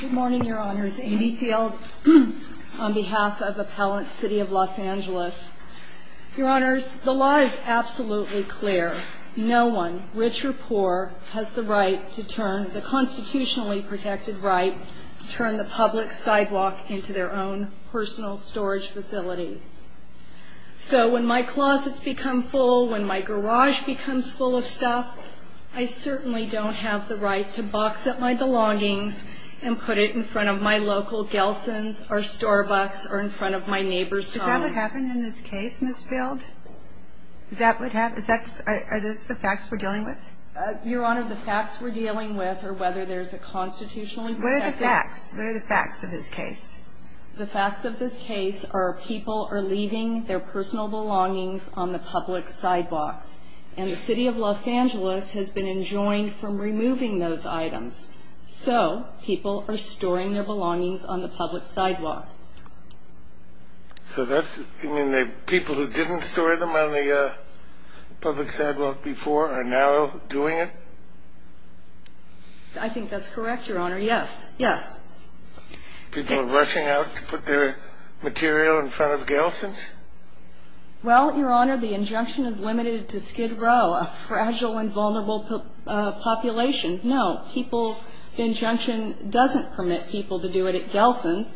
Good morning, your honors. Amy Field on behalf of Appellant City of Los Angeles. Your honors, the law is absolutely clear. No one, rich or poor, has the right to turn, the constitutionally protected right, to turn the public sidewalk into their own personal storage facility. So when my closets become full, when my garage becomes full of stuff, I certainly don't have the right to box up my and put it in front of my local Gelson's or Starbucks or in front of my neighbor's home. Is that what happened in this case, Ms. Field? Is that what happened? Is that, are those the facts we're dealing with? Your honor, the facts we're dealing with are whether there's a constitutionally protected... What are the facts? What are the facts of this case? The facts of this case are people are leaving their personal belongings on the public sidewalks. And City of Los Angeles has been enjoined from removing those items. So people are storing their belongings on the public sidewalk. So that's, you mean the people who didn't store them on the public sidewalk before are now doing it? I think that's correct, your honor. Yes, yes. People are rushing out to put their material in front of Gelson's? Well, your honor, the injunction is limited to a fragile and vulnerable population. No, the injunction doesn't permit people to do it at Gelson's.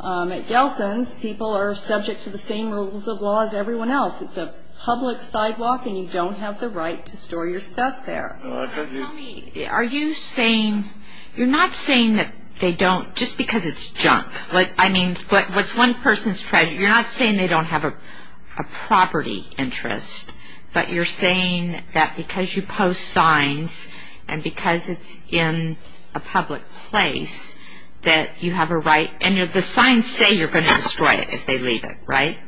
At Gelson's, people are subject to the same rules of law as everyone else. It's a public sidewalk and you don't have the right to store your stuff there. Tell me, are you saying, you're not saying that they don't, just because it's junk. Like, I mean, what's one person's, you're not saying they don't have a property interest, but you're saying that because you post signs and because it's in a public place that you have a right, and the signs say you're going to destroy it if they leave it, right?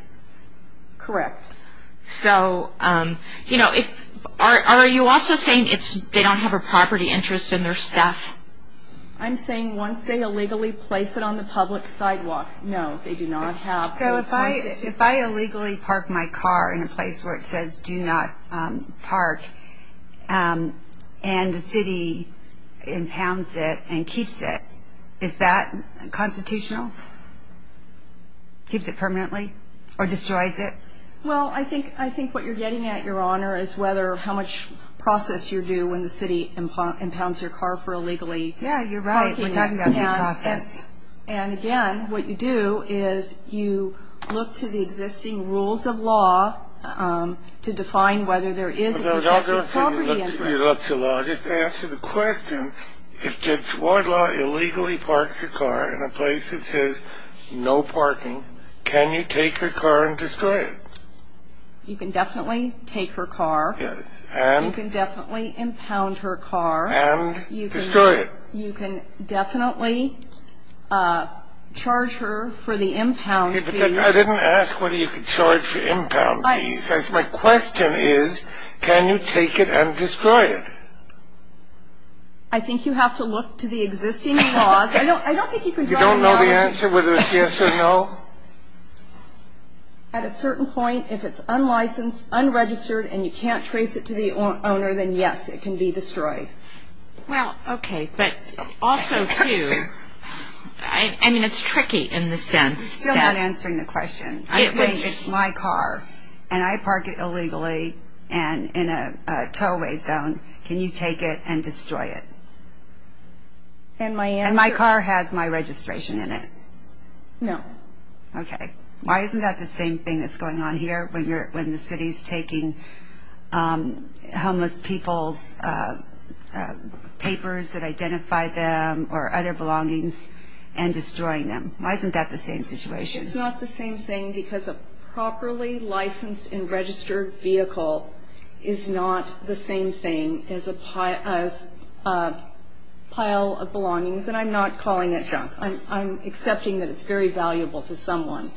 Correct. So, you know, are you also saying they don't have a property interest in their stuff? I'm saying once they illegally place it on the public sidewalk, no, they do not have. So, if I illegally park my car in a place where it says, do not park, and the city impounds it and keeps it, is that constitutional? Keeps it permanently or destroys it? Well, I think what you're getting at, your honor, is whether how much process you do when the city impounds your car for illegally parking. Yeah, you're right, we're talking about due process. And again, what you do is you look to the existing rules of law to define whether there is a protected property interest. I don't think you look to law, just to answer the question, if the court law illegally parks your car in a place that says no parking, can you take her car and destroy it? You can definitely impound her car. And destroy it. You can definitely charge her for the impound fees. I didn't ask whether you could charge for impound fees. My question is, can you take it and destroy it? I think you have to look to the existing laws. I don't think you can drive around. You don't know the answer, whether it's yes or no? At a certain point, if it's unlicensed, unregistered, and you can't trace it to the owner, then yes, it can be destroyed. Well, okay, but also too, I mean, it's tricky in the sense that... You're still not answering the question. It's my car, and I park it illegally, and in a tow-way zone, can you take it and destroy it? And my answer... And my car has my registration in it? No. Okay, why isn't that the same thing that's going on here, when the city's taking homeless people's papers that identify them, or other belongings, and destroying them? Why isn't that the same situation? It's not the same thing, because a properly licensed and registered vehicle is not the same thing as a pile of belongings. And I'm not calling it junk. I'm accepting that it's very valuable to you.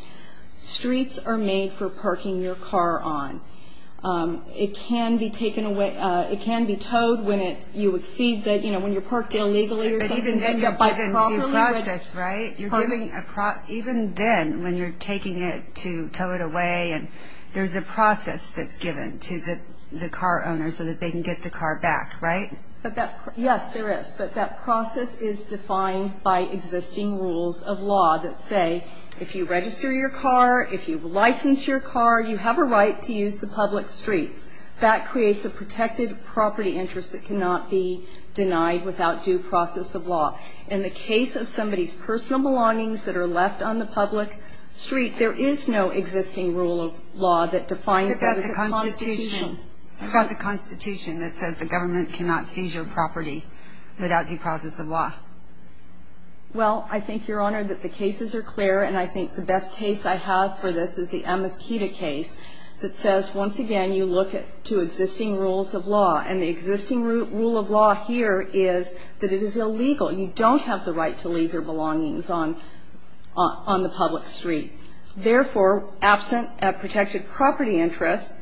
Streets are made for parking your car on. It can be taken away... It can be towed when it... You would see that, you know, when you're parked illegally or something, and you're given due process, right? You're given a... Even then, when you're taking it to tow it away, and there's a process that's given to the car owner, so that they can get the car back, right? Yes, there is, but that If you license your car, you have a right to use the public streets. That creates a protected property interest that cannot be denied without due process of law. In the case of somebody's personal belongings that are left on the public street, there is no existing rule of law that defines that as a constitutional... What about the Constitution that says the government cannot seize your property without due process of law? Well, I think, Your Honor, that the cases are clear, and I think the best case I have for this is the Amiskita case that says, once again, you look at two existing rules of law, and the existing rule of law here is that it is illegal. You don't have the right to leave your belongings on the public street. Therefore, absent a protected property interest,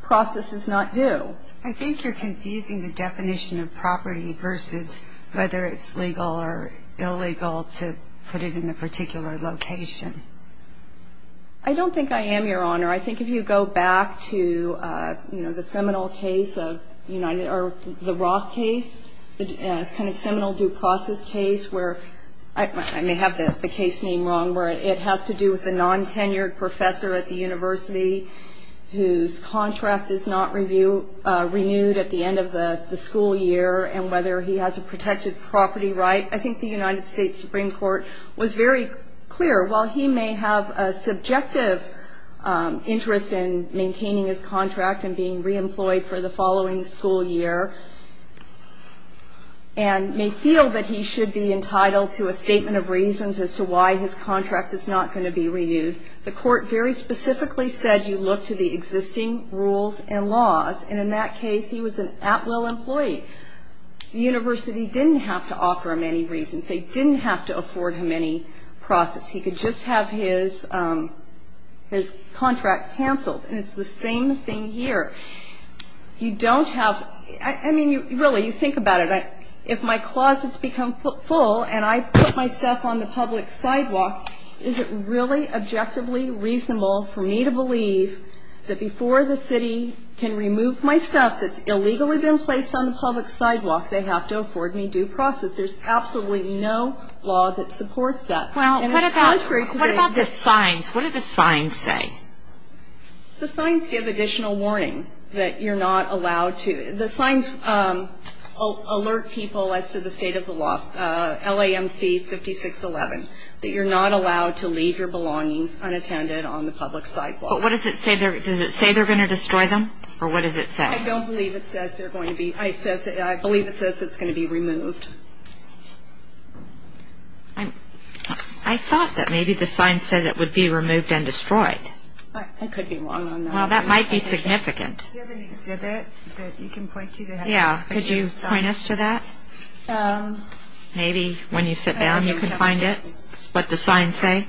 process is not due. I think you're confusing the definition of property versus whether it's legal or illegal to put it in a particular location. I don't think I am, Your Honor. I think if you go back to the Seminole case, or the Roth case, the Seminole due process case, where I may have the case name wrong, where it has to do with a non-tenured professor at the university whose contract is not renewed at the end of the school year, and whether he has a protected property right, I think the United States Supreme Court was very clear. While he may have a subjective interest in maintaining his contract and being re-employed for the following school year, and may feel that he should be entitled to a statement of reasons as to why his contract is not going to be renewed, the court very specifically said you look to the existing rules and laws, and in that case, he was an outlaw employee. The university didn't have to offer him any reasons. They didn't have to afford him any process. He could just have his contract canceled, and it's the same thing here. You don't have, I mean, really, you think about it. If my closet's become full, and I put my stuff on the public sidewalk, is it really objectively reasonable for me to believe that before the city can remove my stuff that's illegally been placed on the public sidewalk, they have to afford me due process? There's absolutely no law that supports that. Well, cut it out. What about the signs? What do the signs say? The signs give additional warning that you're not allowed to, the signs alert people as to the state of the law, LAMC 5611, that you're not allowed to leave your belongings unattended on the public sidewalk. But what does it say? Does it say they're going to destroy them, or what does it say? I don't believe it says they're going to be, I believe it says it's going to be removed. I thought that maybe the sign said it would be removed and destroyed. I could be wrong on that. Well, that might be significant. Do you have an exhibit that you can point to that has the same signs? Yeah, could you point us to that? Maybe when you sit down, you can find it, what the signs say.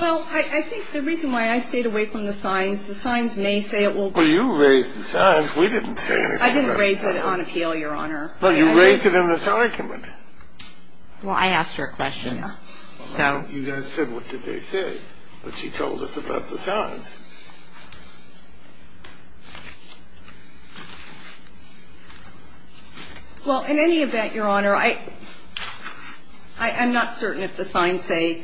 Well, I think the reason why I stayed away from the signs, the signs may say it will be removed. Well, you raised the signs. We didn't say anything about the signs. I didn't raise it on appeal, Your Honor. Well, you raised it in this argument. Well, I asked her a question. Yeah. You guys said, what did they say? But she told us about the signs. Well, in any event, Your Honor, I'm not certain if the signs say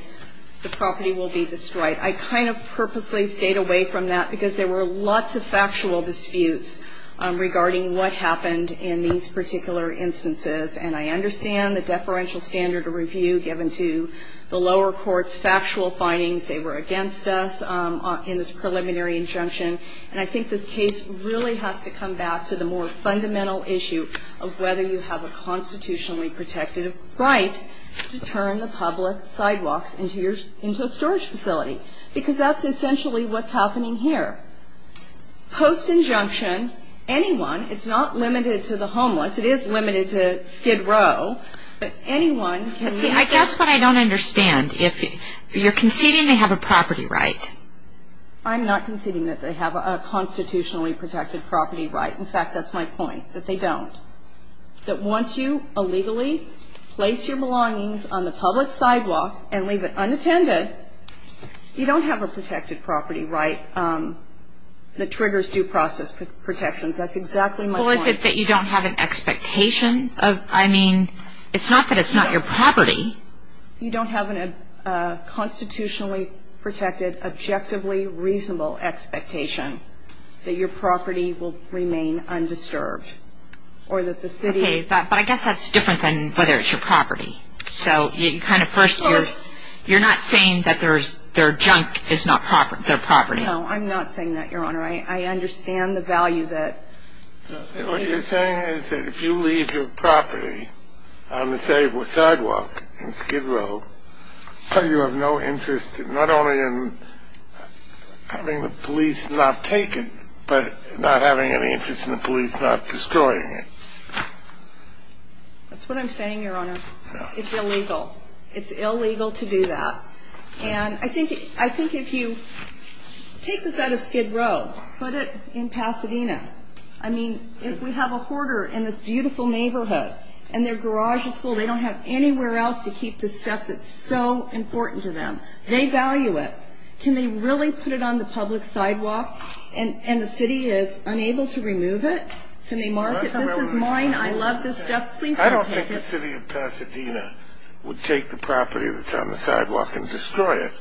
the property will be destroyed. I kind of purposely stayed away from that because there were lots of factual disputes regarding what happened in these particular instances. And I understand the deferential standard of review given to the lower courts, factual findings. They were against us in this process. And I think this case really has to come back to the more fundamental issue of whether you have a constitutionally protected right to turn the public sidewalks into a storage facility. Because that's essentially what's happening here. Post-injunction, anyone, it's not limited to the homeless. It is limited to skid row. But anyone can See, I guess what I don't understand. If you're conceding they have a property right, I'm not conceding that they have a constitutionally protected property right. In fact, that's my point, that they don't. That once you illegally place your belongings on the public sidewalk and leave it unattended, you don't have a protected property right that triggers due process protections. That's exactly my point. Well, is it that you don't have an expectation of, I mean, it's not that it's not your property. You don't have a constitutionally protected, objectively reasonable expectation that your property will remain undisturbed or that the city Okay, but I guess that's different than whether it's your property. So you kind of first, you're not saying that their junk is not their property. No, I'm not saying that, Your Honor. I understand the value that What you're saying is that if you leave your property on the sidewalk in Skid Row, you have no interest, not only in having the police not take it, but not having any interest in the police not destroying it. That's what I'm saying, Your Honor. It's illegal. It's illegal to do that. And I think if you take this out of Skid Row, put it in Pasadena, I mean, if we have a hoarder in this beautiful neighborhood and their garage is full, they don't have anywhere else to keep the stuff that's so important to them. They value it. Can they really put it on the public sidewalk and the city is unable to remove it? Can they mark it? This is mine. I love this stuff. Please don't take it. I don't think the city of Pasadena would take the property that's on the sidewalk and destroy it.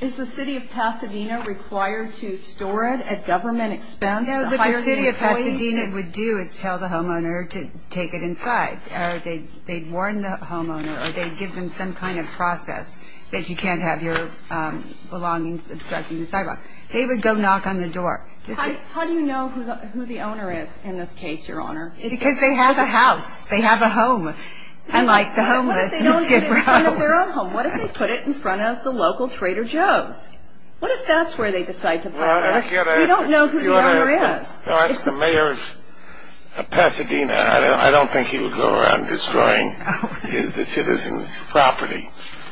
Is the city of Pasadena required to store it at government expense? No, the city of Pasadena would do is tell the homeowner to take it inside. They'd warn the homeowner or they'd give them some kind of process that you can't have your belongings obstructing the sidewalk. They would go knock on the door. How do you know who the owner is in this case, Your Honor? Because they have a house. They have a home, unlike the homeless in Skid Row. They have their own home. What if they put it in front of the local Trader Joe's? What if that's where they decide to put it? We don't know who the owner is. I asked the mayor of Pasadena. I don't think he would go around destroying the citizen's property,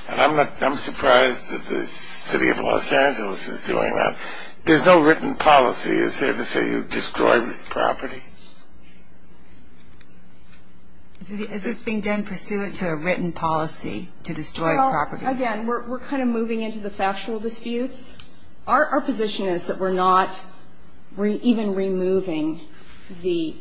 and I'm surprised that the city of Los Angeles is doing that. There's no written policy. Is there to say you destroy property? Is this being done pursuant to a written policy to destroy property? Again, we're kind of moving into the factual disputes. Our position is that we're not even removing the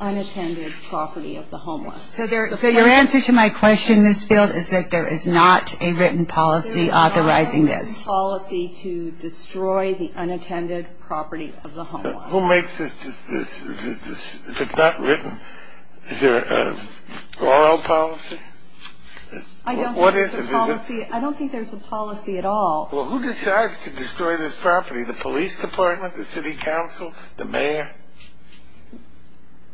unattended property of the homeless. So your answer to my question in this field is that there is not a written policy authorizing this? There is not a written policy to destroy the unattended property of the homeless. Who makes this? If it's not written, is there a moral policy? I don't think there's a policy. I don't think there's a policy at all. Well, who decides to destroy this property? The police department? The city council? The mayor?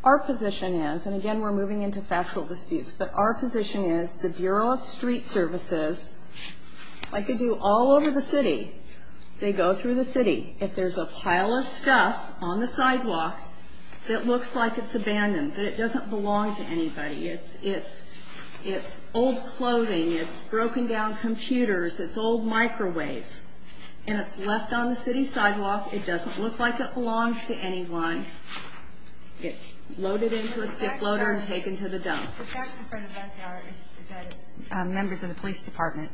Our position is, and, again, we're moving into factual disputes, but our position is the Bureau of Street Services, like they do all over the city, they go through the city. If there's a pile of stuff on the sidewalk that looks like it's abandoned, that it doesn't belong to anybody, it's old clothing, it's broken down computers, it's old microwaves, and it's left on the city sidewalk, it doesn't look like it belongs to anyone, it's loaded into a skip loader and taken to the dump. The facts in front of us are that it's members of the police department.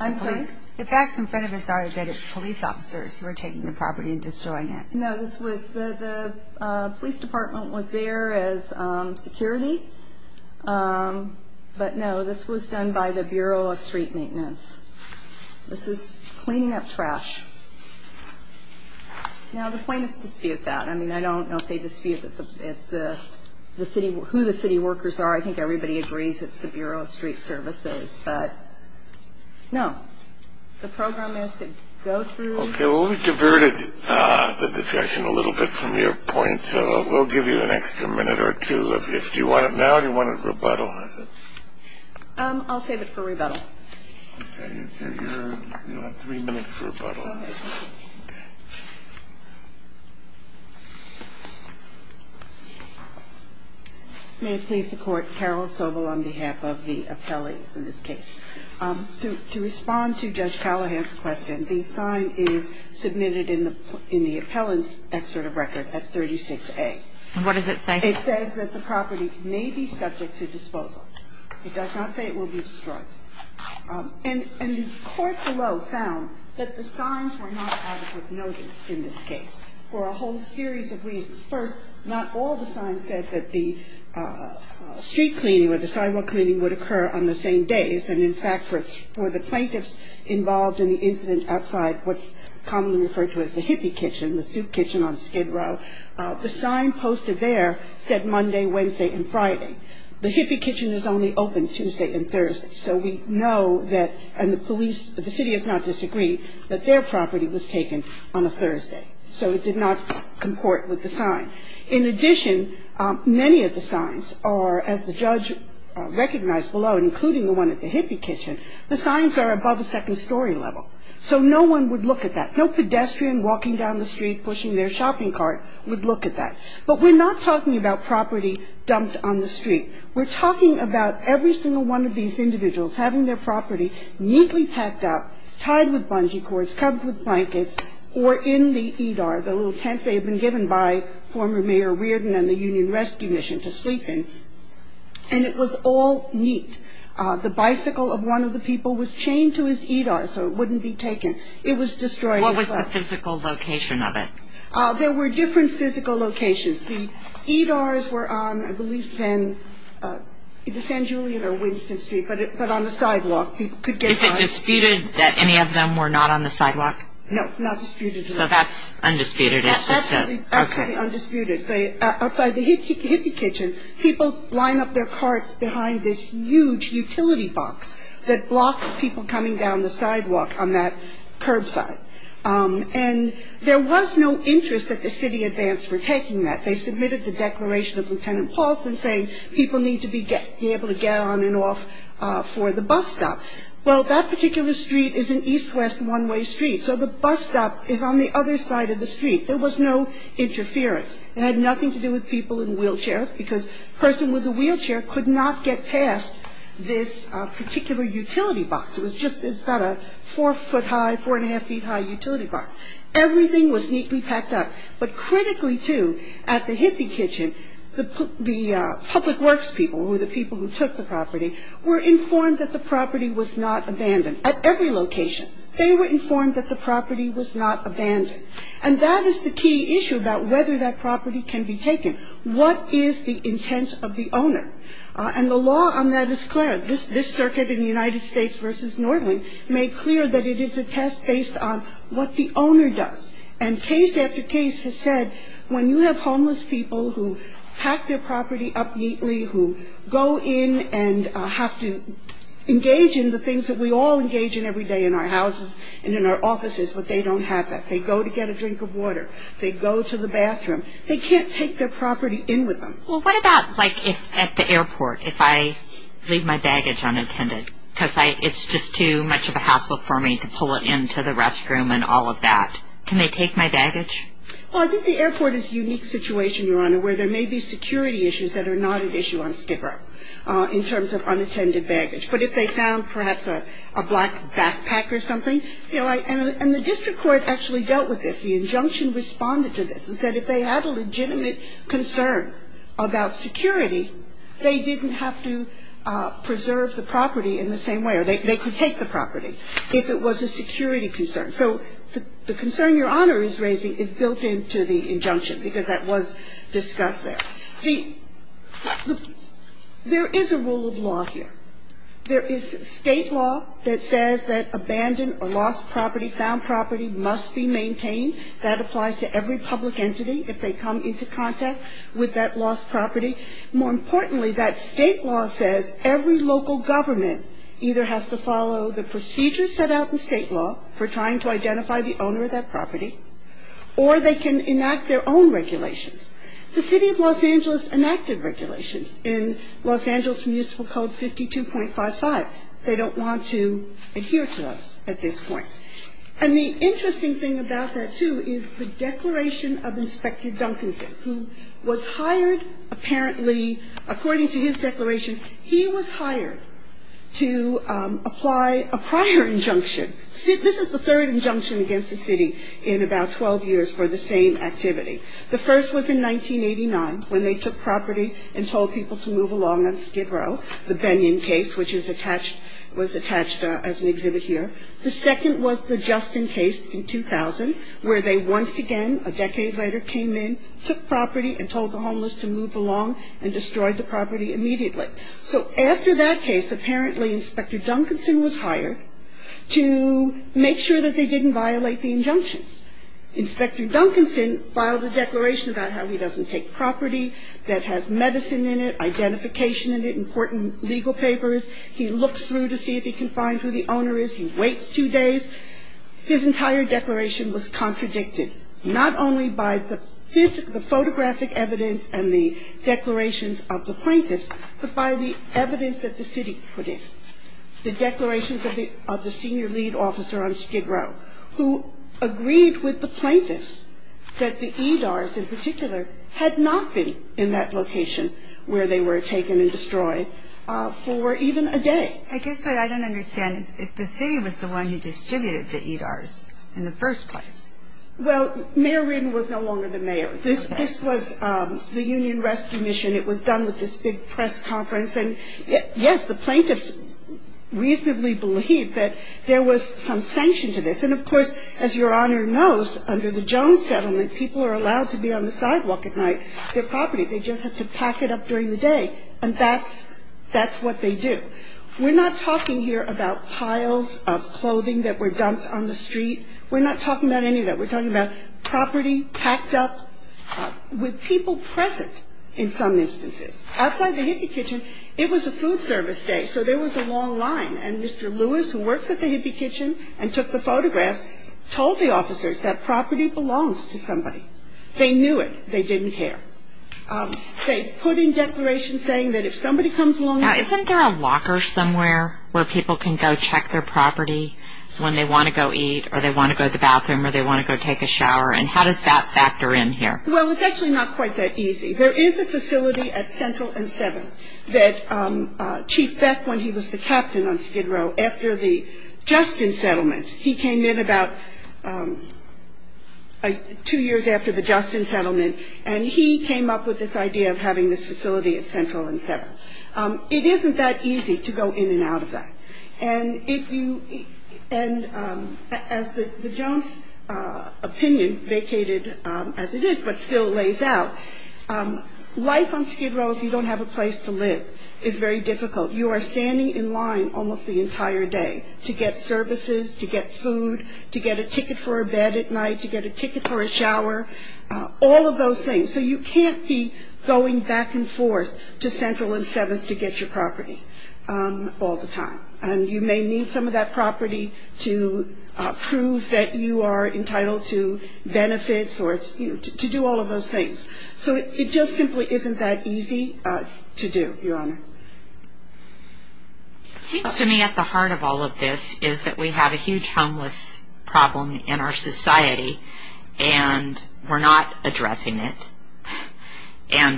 I'm sorry? The facts in front of us are that it's police officers who are taking the property and destroying it. No, the police department was there as security, but no, this was done by the Bureau of Street Maintenance. This is cleaning up trash. Now, the plaintiffs dispute that. I mean, I don't know if they dispute who the city workers are. I think everybody agrees it's the Bureau of Street Services, but no. The program has to go through. Okay, well, we diverted the discussion a little bit from your point, so we'll give you an extra minute or two. Do you want it now or do you want it rebuttal? I'll save it for rebuttal. Okay, so you'll have three minutes for rebuttal. May it please the Court, Carol Sobel on behalf of the appellees in this case. To respond to Judge Callahan's question, the sign is submitted in the appellant's excerpt of record at 36A. And what does it say? It says that the property may be subject to disposal. It does not say it will be destroyed. And the court below found that the signs were not adequate notice in this case for a whole series of reasons. First, not all the signs said that the street cleaning or the sidewalk cleaning would occur on the same day as in fact for the plaintiffs involved in the incident outside what's commonly referred to as the hippie kitchen, the soup kitchen on Skid Row. The sign posted there said Monday, Wednesday, and Friday. The hippie kitchen is only open Tuesday and Thursday. So we know that the police, the city has not disagreed that their property was taken on a Thursday. So it did not comport with the sign. In addition, many of the signs are, as the judge recognized below, including the one at the hippie kitchen, the signs are above a second story level. So no one would look at that. No pedestrian walking down the street pushing their shopping cart would look at that. But we're not talking about property dumped on the street. We're talking about every single one of these individuals having their property neatly packed up, tied with bungee cords, covered with blankets, or in the EDAR, the little tents they had been given by former Mayor Reardon and the Union Rescue Mission to sleep in. And it was all neat. The bicycle of one of the people was chained to his EDAR so it wouldn't be taken. It was destroyed. What was the physical location of it? There were different physical locations. The EDARs were on, I believe, the San Julian or Winston Street, but on the sidewalk. Is it disputed that any of them were not on the sidewalk? No, not disputed at all. So that's undisputed. That's absolutely undisputed. Outside the hippie kitchen, people line up their carts behind this huge utility box that blocks people coming down the sidewalk on that curbside. And there was no interest that the city advanced for taking that. They submitted the declaration of Lieutenant Paulson saying people need to be able to get on and off for the bus stop. Well, that particular street is an east-west one-way street, so the bus stop is on the other side of the street. There was no interference. It had nothing to do with people in wheelchairs because a person with a wheelchair could not get past this particular utility box. It was just about a four-foot-high, four-and-a-half-feet-high utility box. Everything was neatly packed up. But critically, too, at the hippie kitchen, the public works people, who were the people who took the property, were informed that the property was not abandoned at every location. They were informed that the property was not abandoned. And that is the key issue about whether that property can be taken. What is the intent of the owner? And the law on that is clear. This circuit in the United States v. Northern made clear that it is a test based on what the owner does. And case after case has said when you have homeless people who pack their property up neatly, who go in and have to engage in the things that we all engage in every day in our houses and in our offices, but they don't have that. They go to get a drink of water. They go to the bathroom. They can't take their property in with them. Well, what about, like, at the airport, if I leave my baggage unattended because it's just too much of a hassle for me to pull it into the restroom and all of that? Can they take my baggage? Well, I think the airport is a unique situation, Your Honor, where there may be security issues that are not an issue on Skid Row in terms of unattended baggage. But if they found perhaps a black backpack or something, you know, and the district court actually dealt with this. The injunction responded to this and said if they had a legitimate concern about security, they didn't have to preserve the property in the same way, or they could take the property if it was a security concern. So the concern Your Honor is raising is built into the injunction because that was discussed there. There is a rule of law here. There is State law that says that abandoned or lost property, found property must be maintained. That applies to every public entity if they come into contact with that lost property. More importantly, that State law says every local government either has to follow the procedures set out in State law for trying to identify the owner of that property, or they can enact their own regulations. The City of Los Angeles enacted regulations in Los Angeles Municipal Code 52.55. They don't want to adhere to those at this point. And the interesting thing about that, too, is the declaration of Inspector Duncanson, who was hired apparently, according to his declaration, he was hired to apply a prior injunction. This is the third injunction against the city in about 12 years for the same activity. The first was in 1989 when they took property and told people to move along on Skid Row, the Bennion case, which is attached, was attached as an exhibit here. The second was the Justin case in 2000 where they once again, a decade later, came in, took property and told the homeless to move along and destroyed the property immediately. So after that case, apparently Inspector Duncanson was hired to make sure that they didn't violate the injunctions. Inspector Duncanson filed a declaration about how he doesn't take property that has medicine in it, identification in it, important legal papers. He looks through to see if he can find who the owner is. He waits two days. His entire declaration was contradicted, not only by the photographic evidence and the declarations of the plaintiffs, but by the evidence that the city put in, the declarations of the senior lead officer on Skid Row, who agreed with the plaintiffs that the EDARs in particular had not been in that location where they were taken and destroyed for even a day. I guess what I don't understand is if the city was the one who distributed the EDARs in the first place. Well, Mayor Ridden was no longer the mayor. This was the Union Rescue Mission. It was done with this big press conference. And, yes, the plaintiffs reasonably believe that there was some sanction to this. And, of course, as Your Honor knows, under the Jones settlement, people are allowed to be on the sidewalk at night, their property. They just have to pack it up during the day. And that's what they do. We're not talking here about piles of clothing that were dumped on the street. We're not talking about any of that. We're talking about property packed up with people present in some instances. Outside the Hippie Kitchen, it was a food service day, so there was a long line. And Mr. Lewis, who works at the Hippie Kitchen and took the photographs, told the officers that property belongs to somebody. They knew it. They didn't care. They put in declarations saying that if somebody comes along. Now, isn't there a locker somewhere where people can go check their property when they want to go eat or they want to go to the bathroom or they want to go take a shower? And how does that factor in here? Well, it's actually not quite that easy. There is a facility at Central and 7 that Chief Beck, when he was the captain on Skid Row, after the Justin settlement, he came in about two years after the Justin settlement, and he came up with this idea of having this facility at Central and 7. It isn't that easy to go in and out of that. And as the Jones opinion vacated as it is but still lays out, life on Skid Row, if you don't have a place to live, is very difficult. You are standing in line almost the entire day to get services, to get food, to get a ticket for a bed at night, to get a ticket for a shower, all of those things. So you can't be going back and forth to Central and 7 to get your property all the time. And you may need some of that property to prove that you are entitled to benefits or to do all of those things. So it just simply isn't that easy to do, Your Honor. It seems to me at the heart of all of this is that we have a huge homeless problem in our society, and we're not addressing it,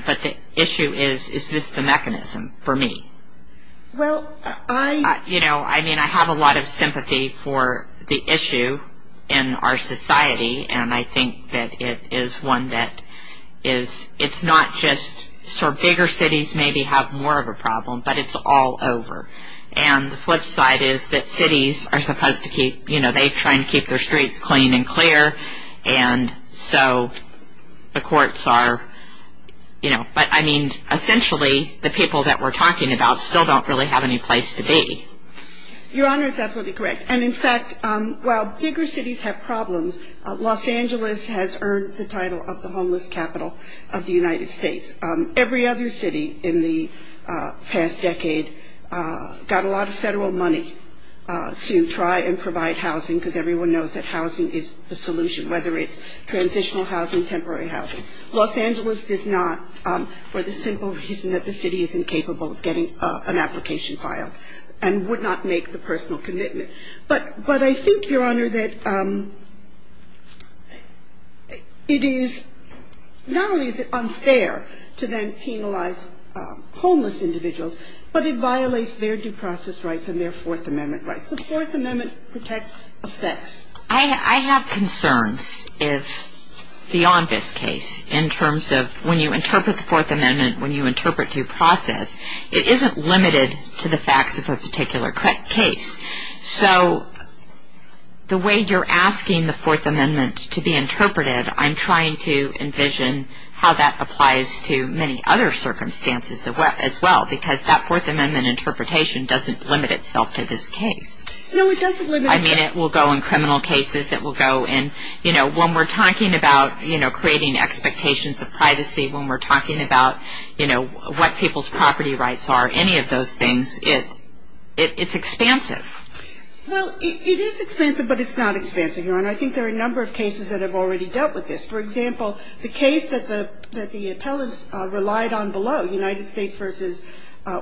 but the issue is, is this the mechanism for me? Well, I... You know, I mean, I have a lot of sympathy for the issue in our society, and I think that it is one that is, it's not just sort of bigger cities maybe have more of a problem, but it's all over. And the flip side is that cities are supposed to keep, you know, they try and keep their streets clean and clear, and so the courts are, you know, but, I mean, essentially the people that we're talking about still don't really have any place to be. Your Honor is absolutely correct. And, in fact, while bigger cities have problems, Los Angeles has earned the title of the homeless capital of the United States. Every other city in the past decade got a lot of federal money to try and provide housing, because everyone knows that housing is the solution, whether it's transitional housing, temporary housing. Los Angeles does not, for the simple reason that the city is incapable of getting an application filed and would not make the personal commitment. But I think, Your Honor, that it is, not only is it unfair to then penalize homeless individuals, but it violates their due process rights and their Fourth Amendment rights. What does the Fourth Amendment protect of sex? I have concerns if, beyond this case, in terms of when you interpret the Fourth Amendment, when you interpret due process, it isn't limited to the facts of a particular case. So the way you're asking the Fourth Amendment to be interpreted, I'm trying to envision how that applies to many other circumstances as well, because that Fourth Amendment interpretation doesn't limit itself to this case. No, it doesn't limit itself. I mean, it will go in criminal cases. It will go in, you know, when we're talking about, you know, creating expectations of privacy, when we're talking about, you know, what people's property rights are, any of those things, it's expansive. Well, it is expansive, but it's not expansive, Your Honor. I think there are a number of cases that have already dealt with this. For example, the case that the appellants relied on below, United States v.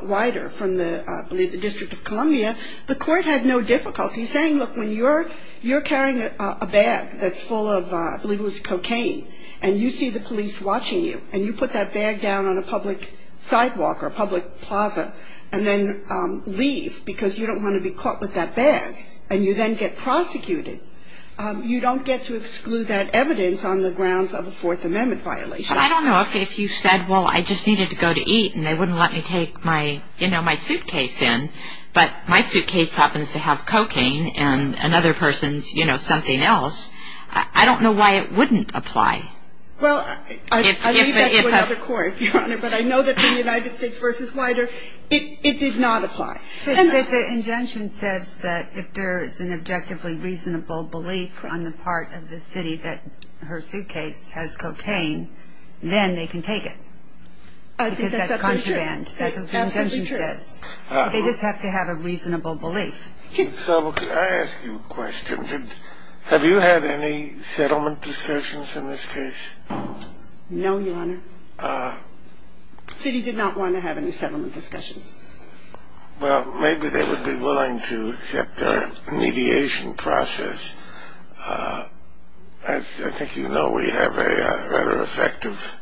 Wider from the, I believe, the District of Columbia, the court had no difficulty saying, look, when you're carrying a bag that's full of, I believe it was cocaine, and you see the police watching you and you put that bag down on a public sidewalk or a public plaza and then leave because you don't want to be caught with that bag and you then get prosecuted, you don't get to exclude that evidence on the grounds of a Fourth Amendment violation. But I don't know if you said, well, I just needed to go to eat and they wouldn't let me take my, you know, my suitcase in, but my suitcase happens to have cocaine and another person's, you know, something else. I don't know why it wouldn't apply. Well, I leave that to another court, Your Honor, but I know that the United States v. Wider, it did not apply. The injunction says that if there is an objectively reasonable belief on the part of the city that her suitcase has cocaine, then they can take it because that's contraband, that's what the injunction says. They just have to have a reasonable belief. So I ask you a question. Have you had any settlement discussions in this case? No, Your Honor. The city did not want to have any settlement discussions. Well, maybe they would be willing to accept our mediation process. As I think you know, we have a rather effective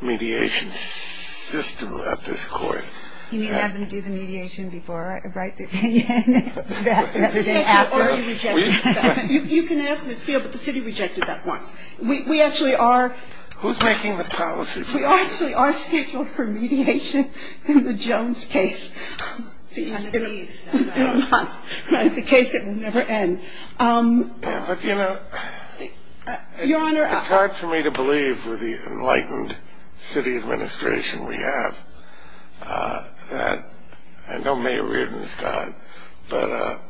mediation system at this court. You mean have them do the mediation before I write the opinion? Or are you rejecting it? You can ask this field, but the city rejected that once. We actually are. Who's making the policy? We actually are scheduled for mediation in the Jones case. The case that will never end. But, you know, it's hard for me to believe with the enlightened city administration we have that I know Mayor Reardon is gone, but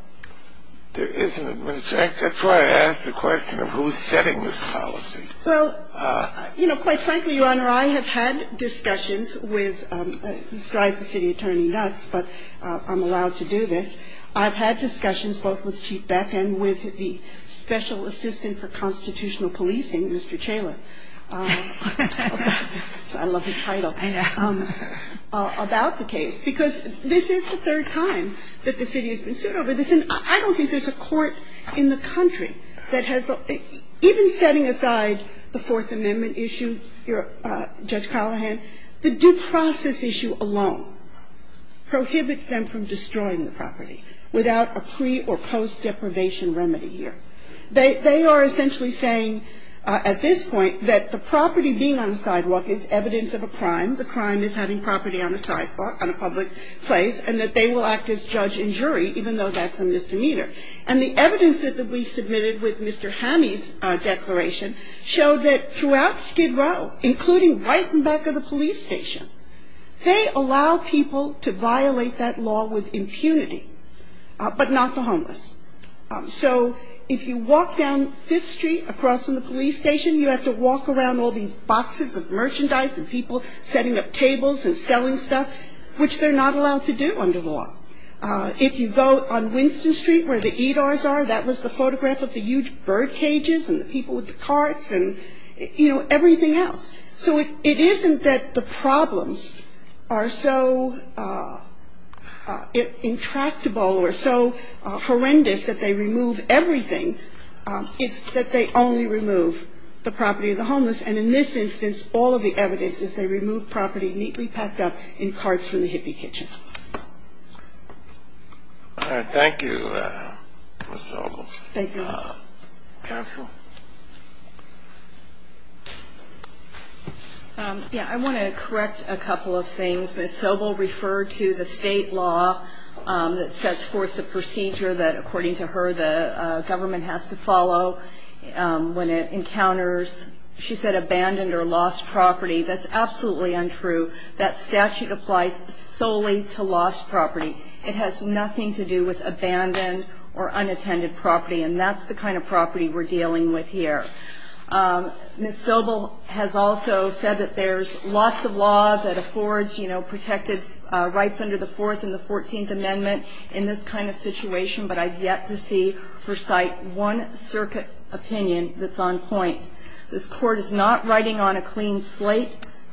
there is an administration. That's why I asked the question of who's setting this policy. Well, you know, quite frankly, Your Honor, I have had discussions with, this drives the city attorney nuts, but I'm allowed to do this. I've had discussions both with Chief Beck and with the Special Assistant for Constitutional Policing, Mr. Chaler. I love his title. About the case. Because this is the third time that the city has been sued over this. And I don't think there's a court in the country that has even setting aside the Fourth Amendment issue, Judge Callahan, the due process issue alone prohibits them from destroying the property without a pre or post deprivation remedy here. They are essentially saying at this point that the property being on the sidewalk is evidence of a crime. The crime is having property on a sidewalk, on a public place, and that they will act as judge and jury, even though that's a misdemeanor. And the evidence that we submitted with Mr. Hammy's declaration showed that throughout Skid Row, including right in back of the police station, they allow people to violate that law with impunity, but not the homeless. So if you walk down Fifth Street across from the police station, you have to walk around all these boxes of merchandise and people setting up tables and selling stuff, which they're not allowed to do under the law. If you go on Winston Street where the EDARs are, that was the photograph of the huge bird cages and the people with the carts and, you know, everything else. So it isn't that the problems are so intractable or so horrendous that they remove everything. It's that they only remove the property of the homeless. And in this instance, all of the evidence is they remove property neatly packed up in carts from the hippie kitchen. Thank you, Ms. Sobel. Thank you. Counsel? Yeah, I want to correct a couple of things. Ms. Sobel referred to the State law that sets forth the procedure that, according to her, the government has to follow when it encounters, she said, abandoned or lost property. That's absolutely untrue. That statute applies solely to lost property. It has nothing to do with abandoned or unattended property, and that's the kind of property we're dealing with here. Ms. Sobel has also said that there's lots of law that affords, you know, protected rights under the Fourth and the Fourteenth Amendment in this kind of situation, but I've yet to see or cite one circuit opinion that's on point. This Court is not riding on a clean slate.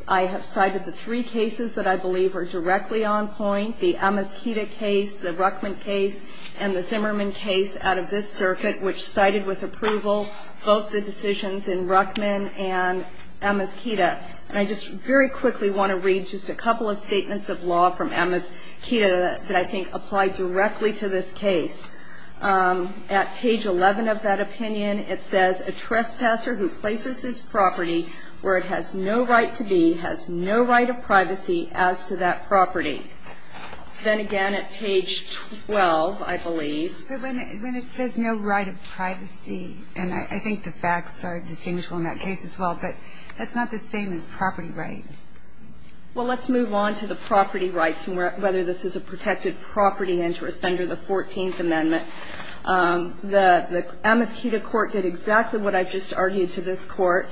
I have cited the three cases that I believe are directly on point, the Amos-Quita case, the Ruckman case, and the Zimmerman case out of this circuit, which cited with approval both the decisions in Ruckman and Amos-Quita. And I just very quickly want to read just a couple of statements of law from Amos-Quita that I think apply directly to this case. At page 11 of that opinion, it says, a trespasser who places his property where it has no right to be has no right of privacy as to that property. Then again at page 12, I believe. But when it says no right of privacy, and I think the facts are distinguishable in that case as well, but that's not the same as property right. Well, let's move on to the property rights and whether this is a protected property interest under the Fourteenth Amendment. The Amos-Quita court did exactly what I've just argued to this court.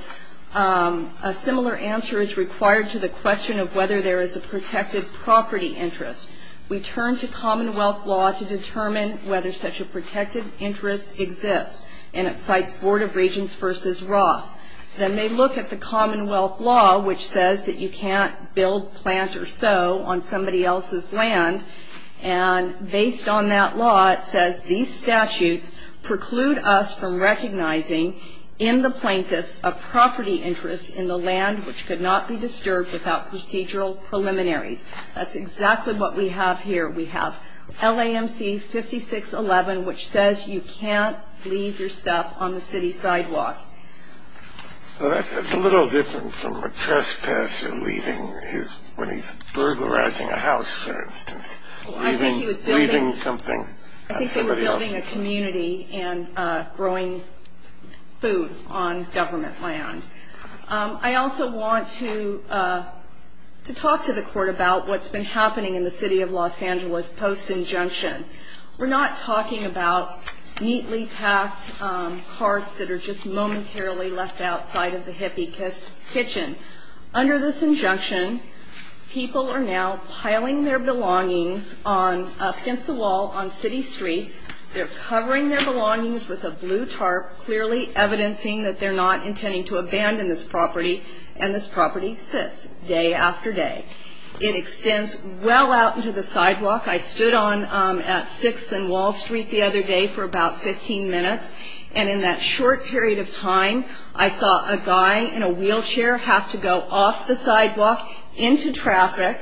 A similar answer is required to the question of whether there is a protected property interest. We turn to Commonwealth law to determine whether such a protected interest exists, and it cites Board of Regents v. Roth. Then they look at the Commonwealth law, which says that you can't build, plant, or sow on somebody else's land. And based on that law, it says, these statutes preclude us from recognizing in the plaintiffs a property interest in the land which could not be disturbed without procedural preliminaries. That's exactly what we have here. We have LAMC 5611, which says you can't leave your stuff on the city sidewalk. So that's a little different from a trespasser leaving his ñ when he's burglarizing a house, for instance, leaving something on somebody else's land. I think he was building a community and growing food on government land. I also want to talk to the court about what's been happening in the city of Los Angeles post-injunction. We're not talking about neatly packed carts that are just momentarily left outside of the hippie kitchen. Under this injunction, people are now piling their belongings up against the wall on city streets. They're covering their belongings with a blue tarp, clearly evidencing that they're not intending to abandon this property, and this property sits day after day. It extends well out into the sidewalk. I stood on at 6th and Wall Street the other day for about 15 minutes, and in that short period of time, I saw a guy in a wheelchair have to go off the sidewalk, into traffic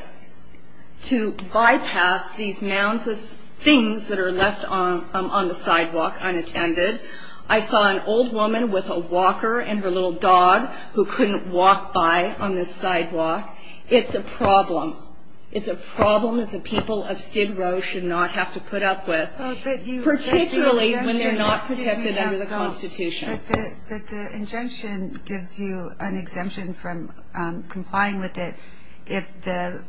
to bypass these mounds of things that are left on the sidewalk unattended. I saw an old woman with a walker and her little dog who couldn't walk by on this sidewalk. It's a problem. It's a problem that the people of Skid Row should not have to put up with, particularly when they're not protected under the Constitution. But the injunction gives you an exemption from complying with it if the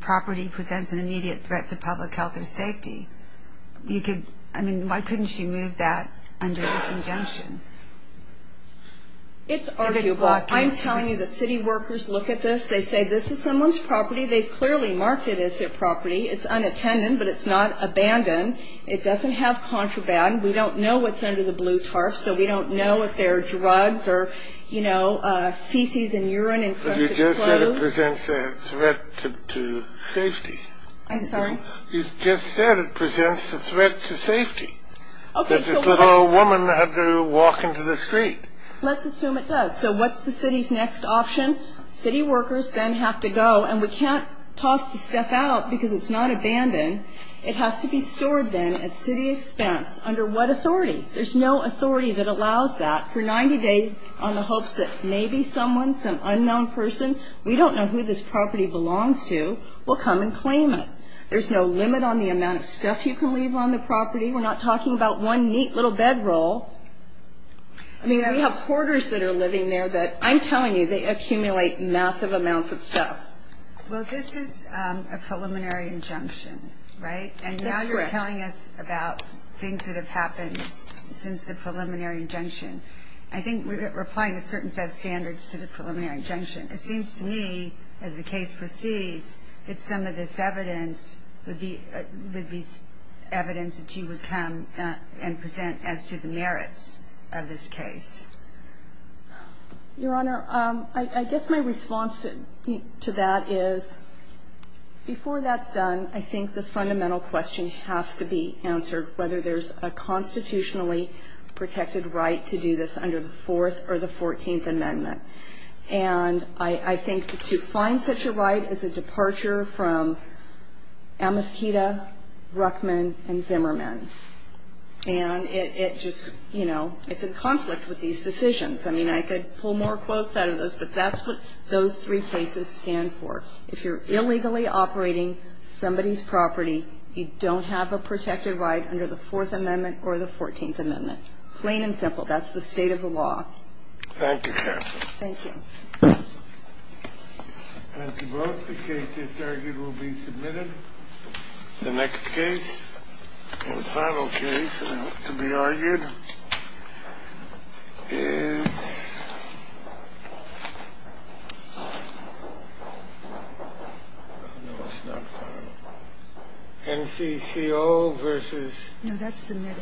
property presents an immediate threat to public health or safety. I mean, why couldn't you move that under this injunction? It's arguable. I'm telling you the city workers look at this. They say this is someone's property. They've clearly marked it as their property. It's unattended, but it's not abandoned. It doesn't have contraband. We don't know what's under the blue tarp, so we don't know if there are drugs or, you know, feces and urine and crusted clothes. But you just said it presents a threat to safety. I'm sorry? You just said it presents a threat to safety. Okay, so what? That this little old woman had to walk into the street. Let's assume it does. So what's the city's next option? City workers then have to go, and we can't toss the stuff out because it's not abandoned. It has to be stored then at city expense under what authority? There's no authority that allows that. For 90 days on the hopes that maybe someone, some unknown person, we don't know who this property belongs to, will come and claim it. There's no limit on the amount of stuff you can leave on the property. We're not talking about one neat little bedroll. I mean, we have hoarders that are living there that, I'm telling you, they accumulate massive amounts of stuff. Well, this is a preliminary injunction, right? And now you're telling us about things that have happened since the preliminary injunction. I think we're applying a certain set of standards to the preliminary injunction. It seems to me, as the case proceeds, that some of this evidence would be evidence that you would come and present as to the merits of this case. Your Honor, I guess my response to that is, before that's done, I think the fundamental question has to be answered, whether there's a constitutionally protected right to do this under the Fourth or the Fourteenth Amendment. And I think to find such a right is a departure from Amiskita, Ruckman, and Zimmerman. And it just, you know, it's in conflict with these decisions. I mean, I could pull more quotes out of this, but that's what those three cases stand for. If you're illegally operating somebody's property, you don't have a protected right under the Fourth Amendment or the Fourteenth Amendment. Plain and simple. That's the state of the law. Thank you, Your Honor. Thank you. Thank you both. The case, as argued, will be submitted. The next case and final case to be argued is NCCO versus. No, that's submitted.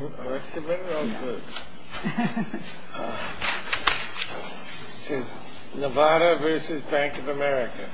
Oh, that's submitted? Oh, good. It's Nevada versus Bank of America.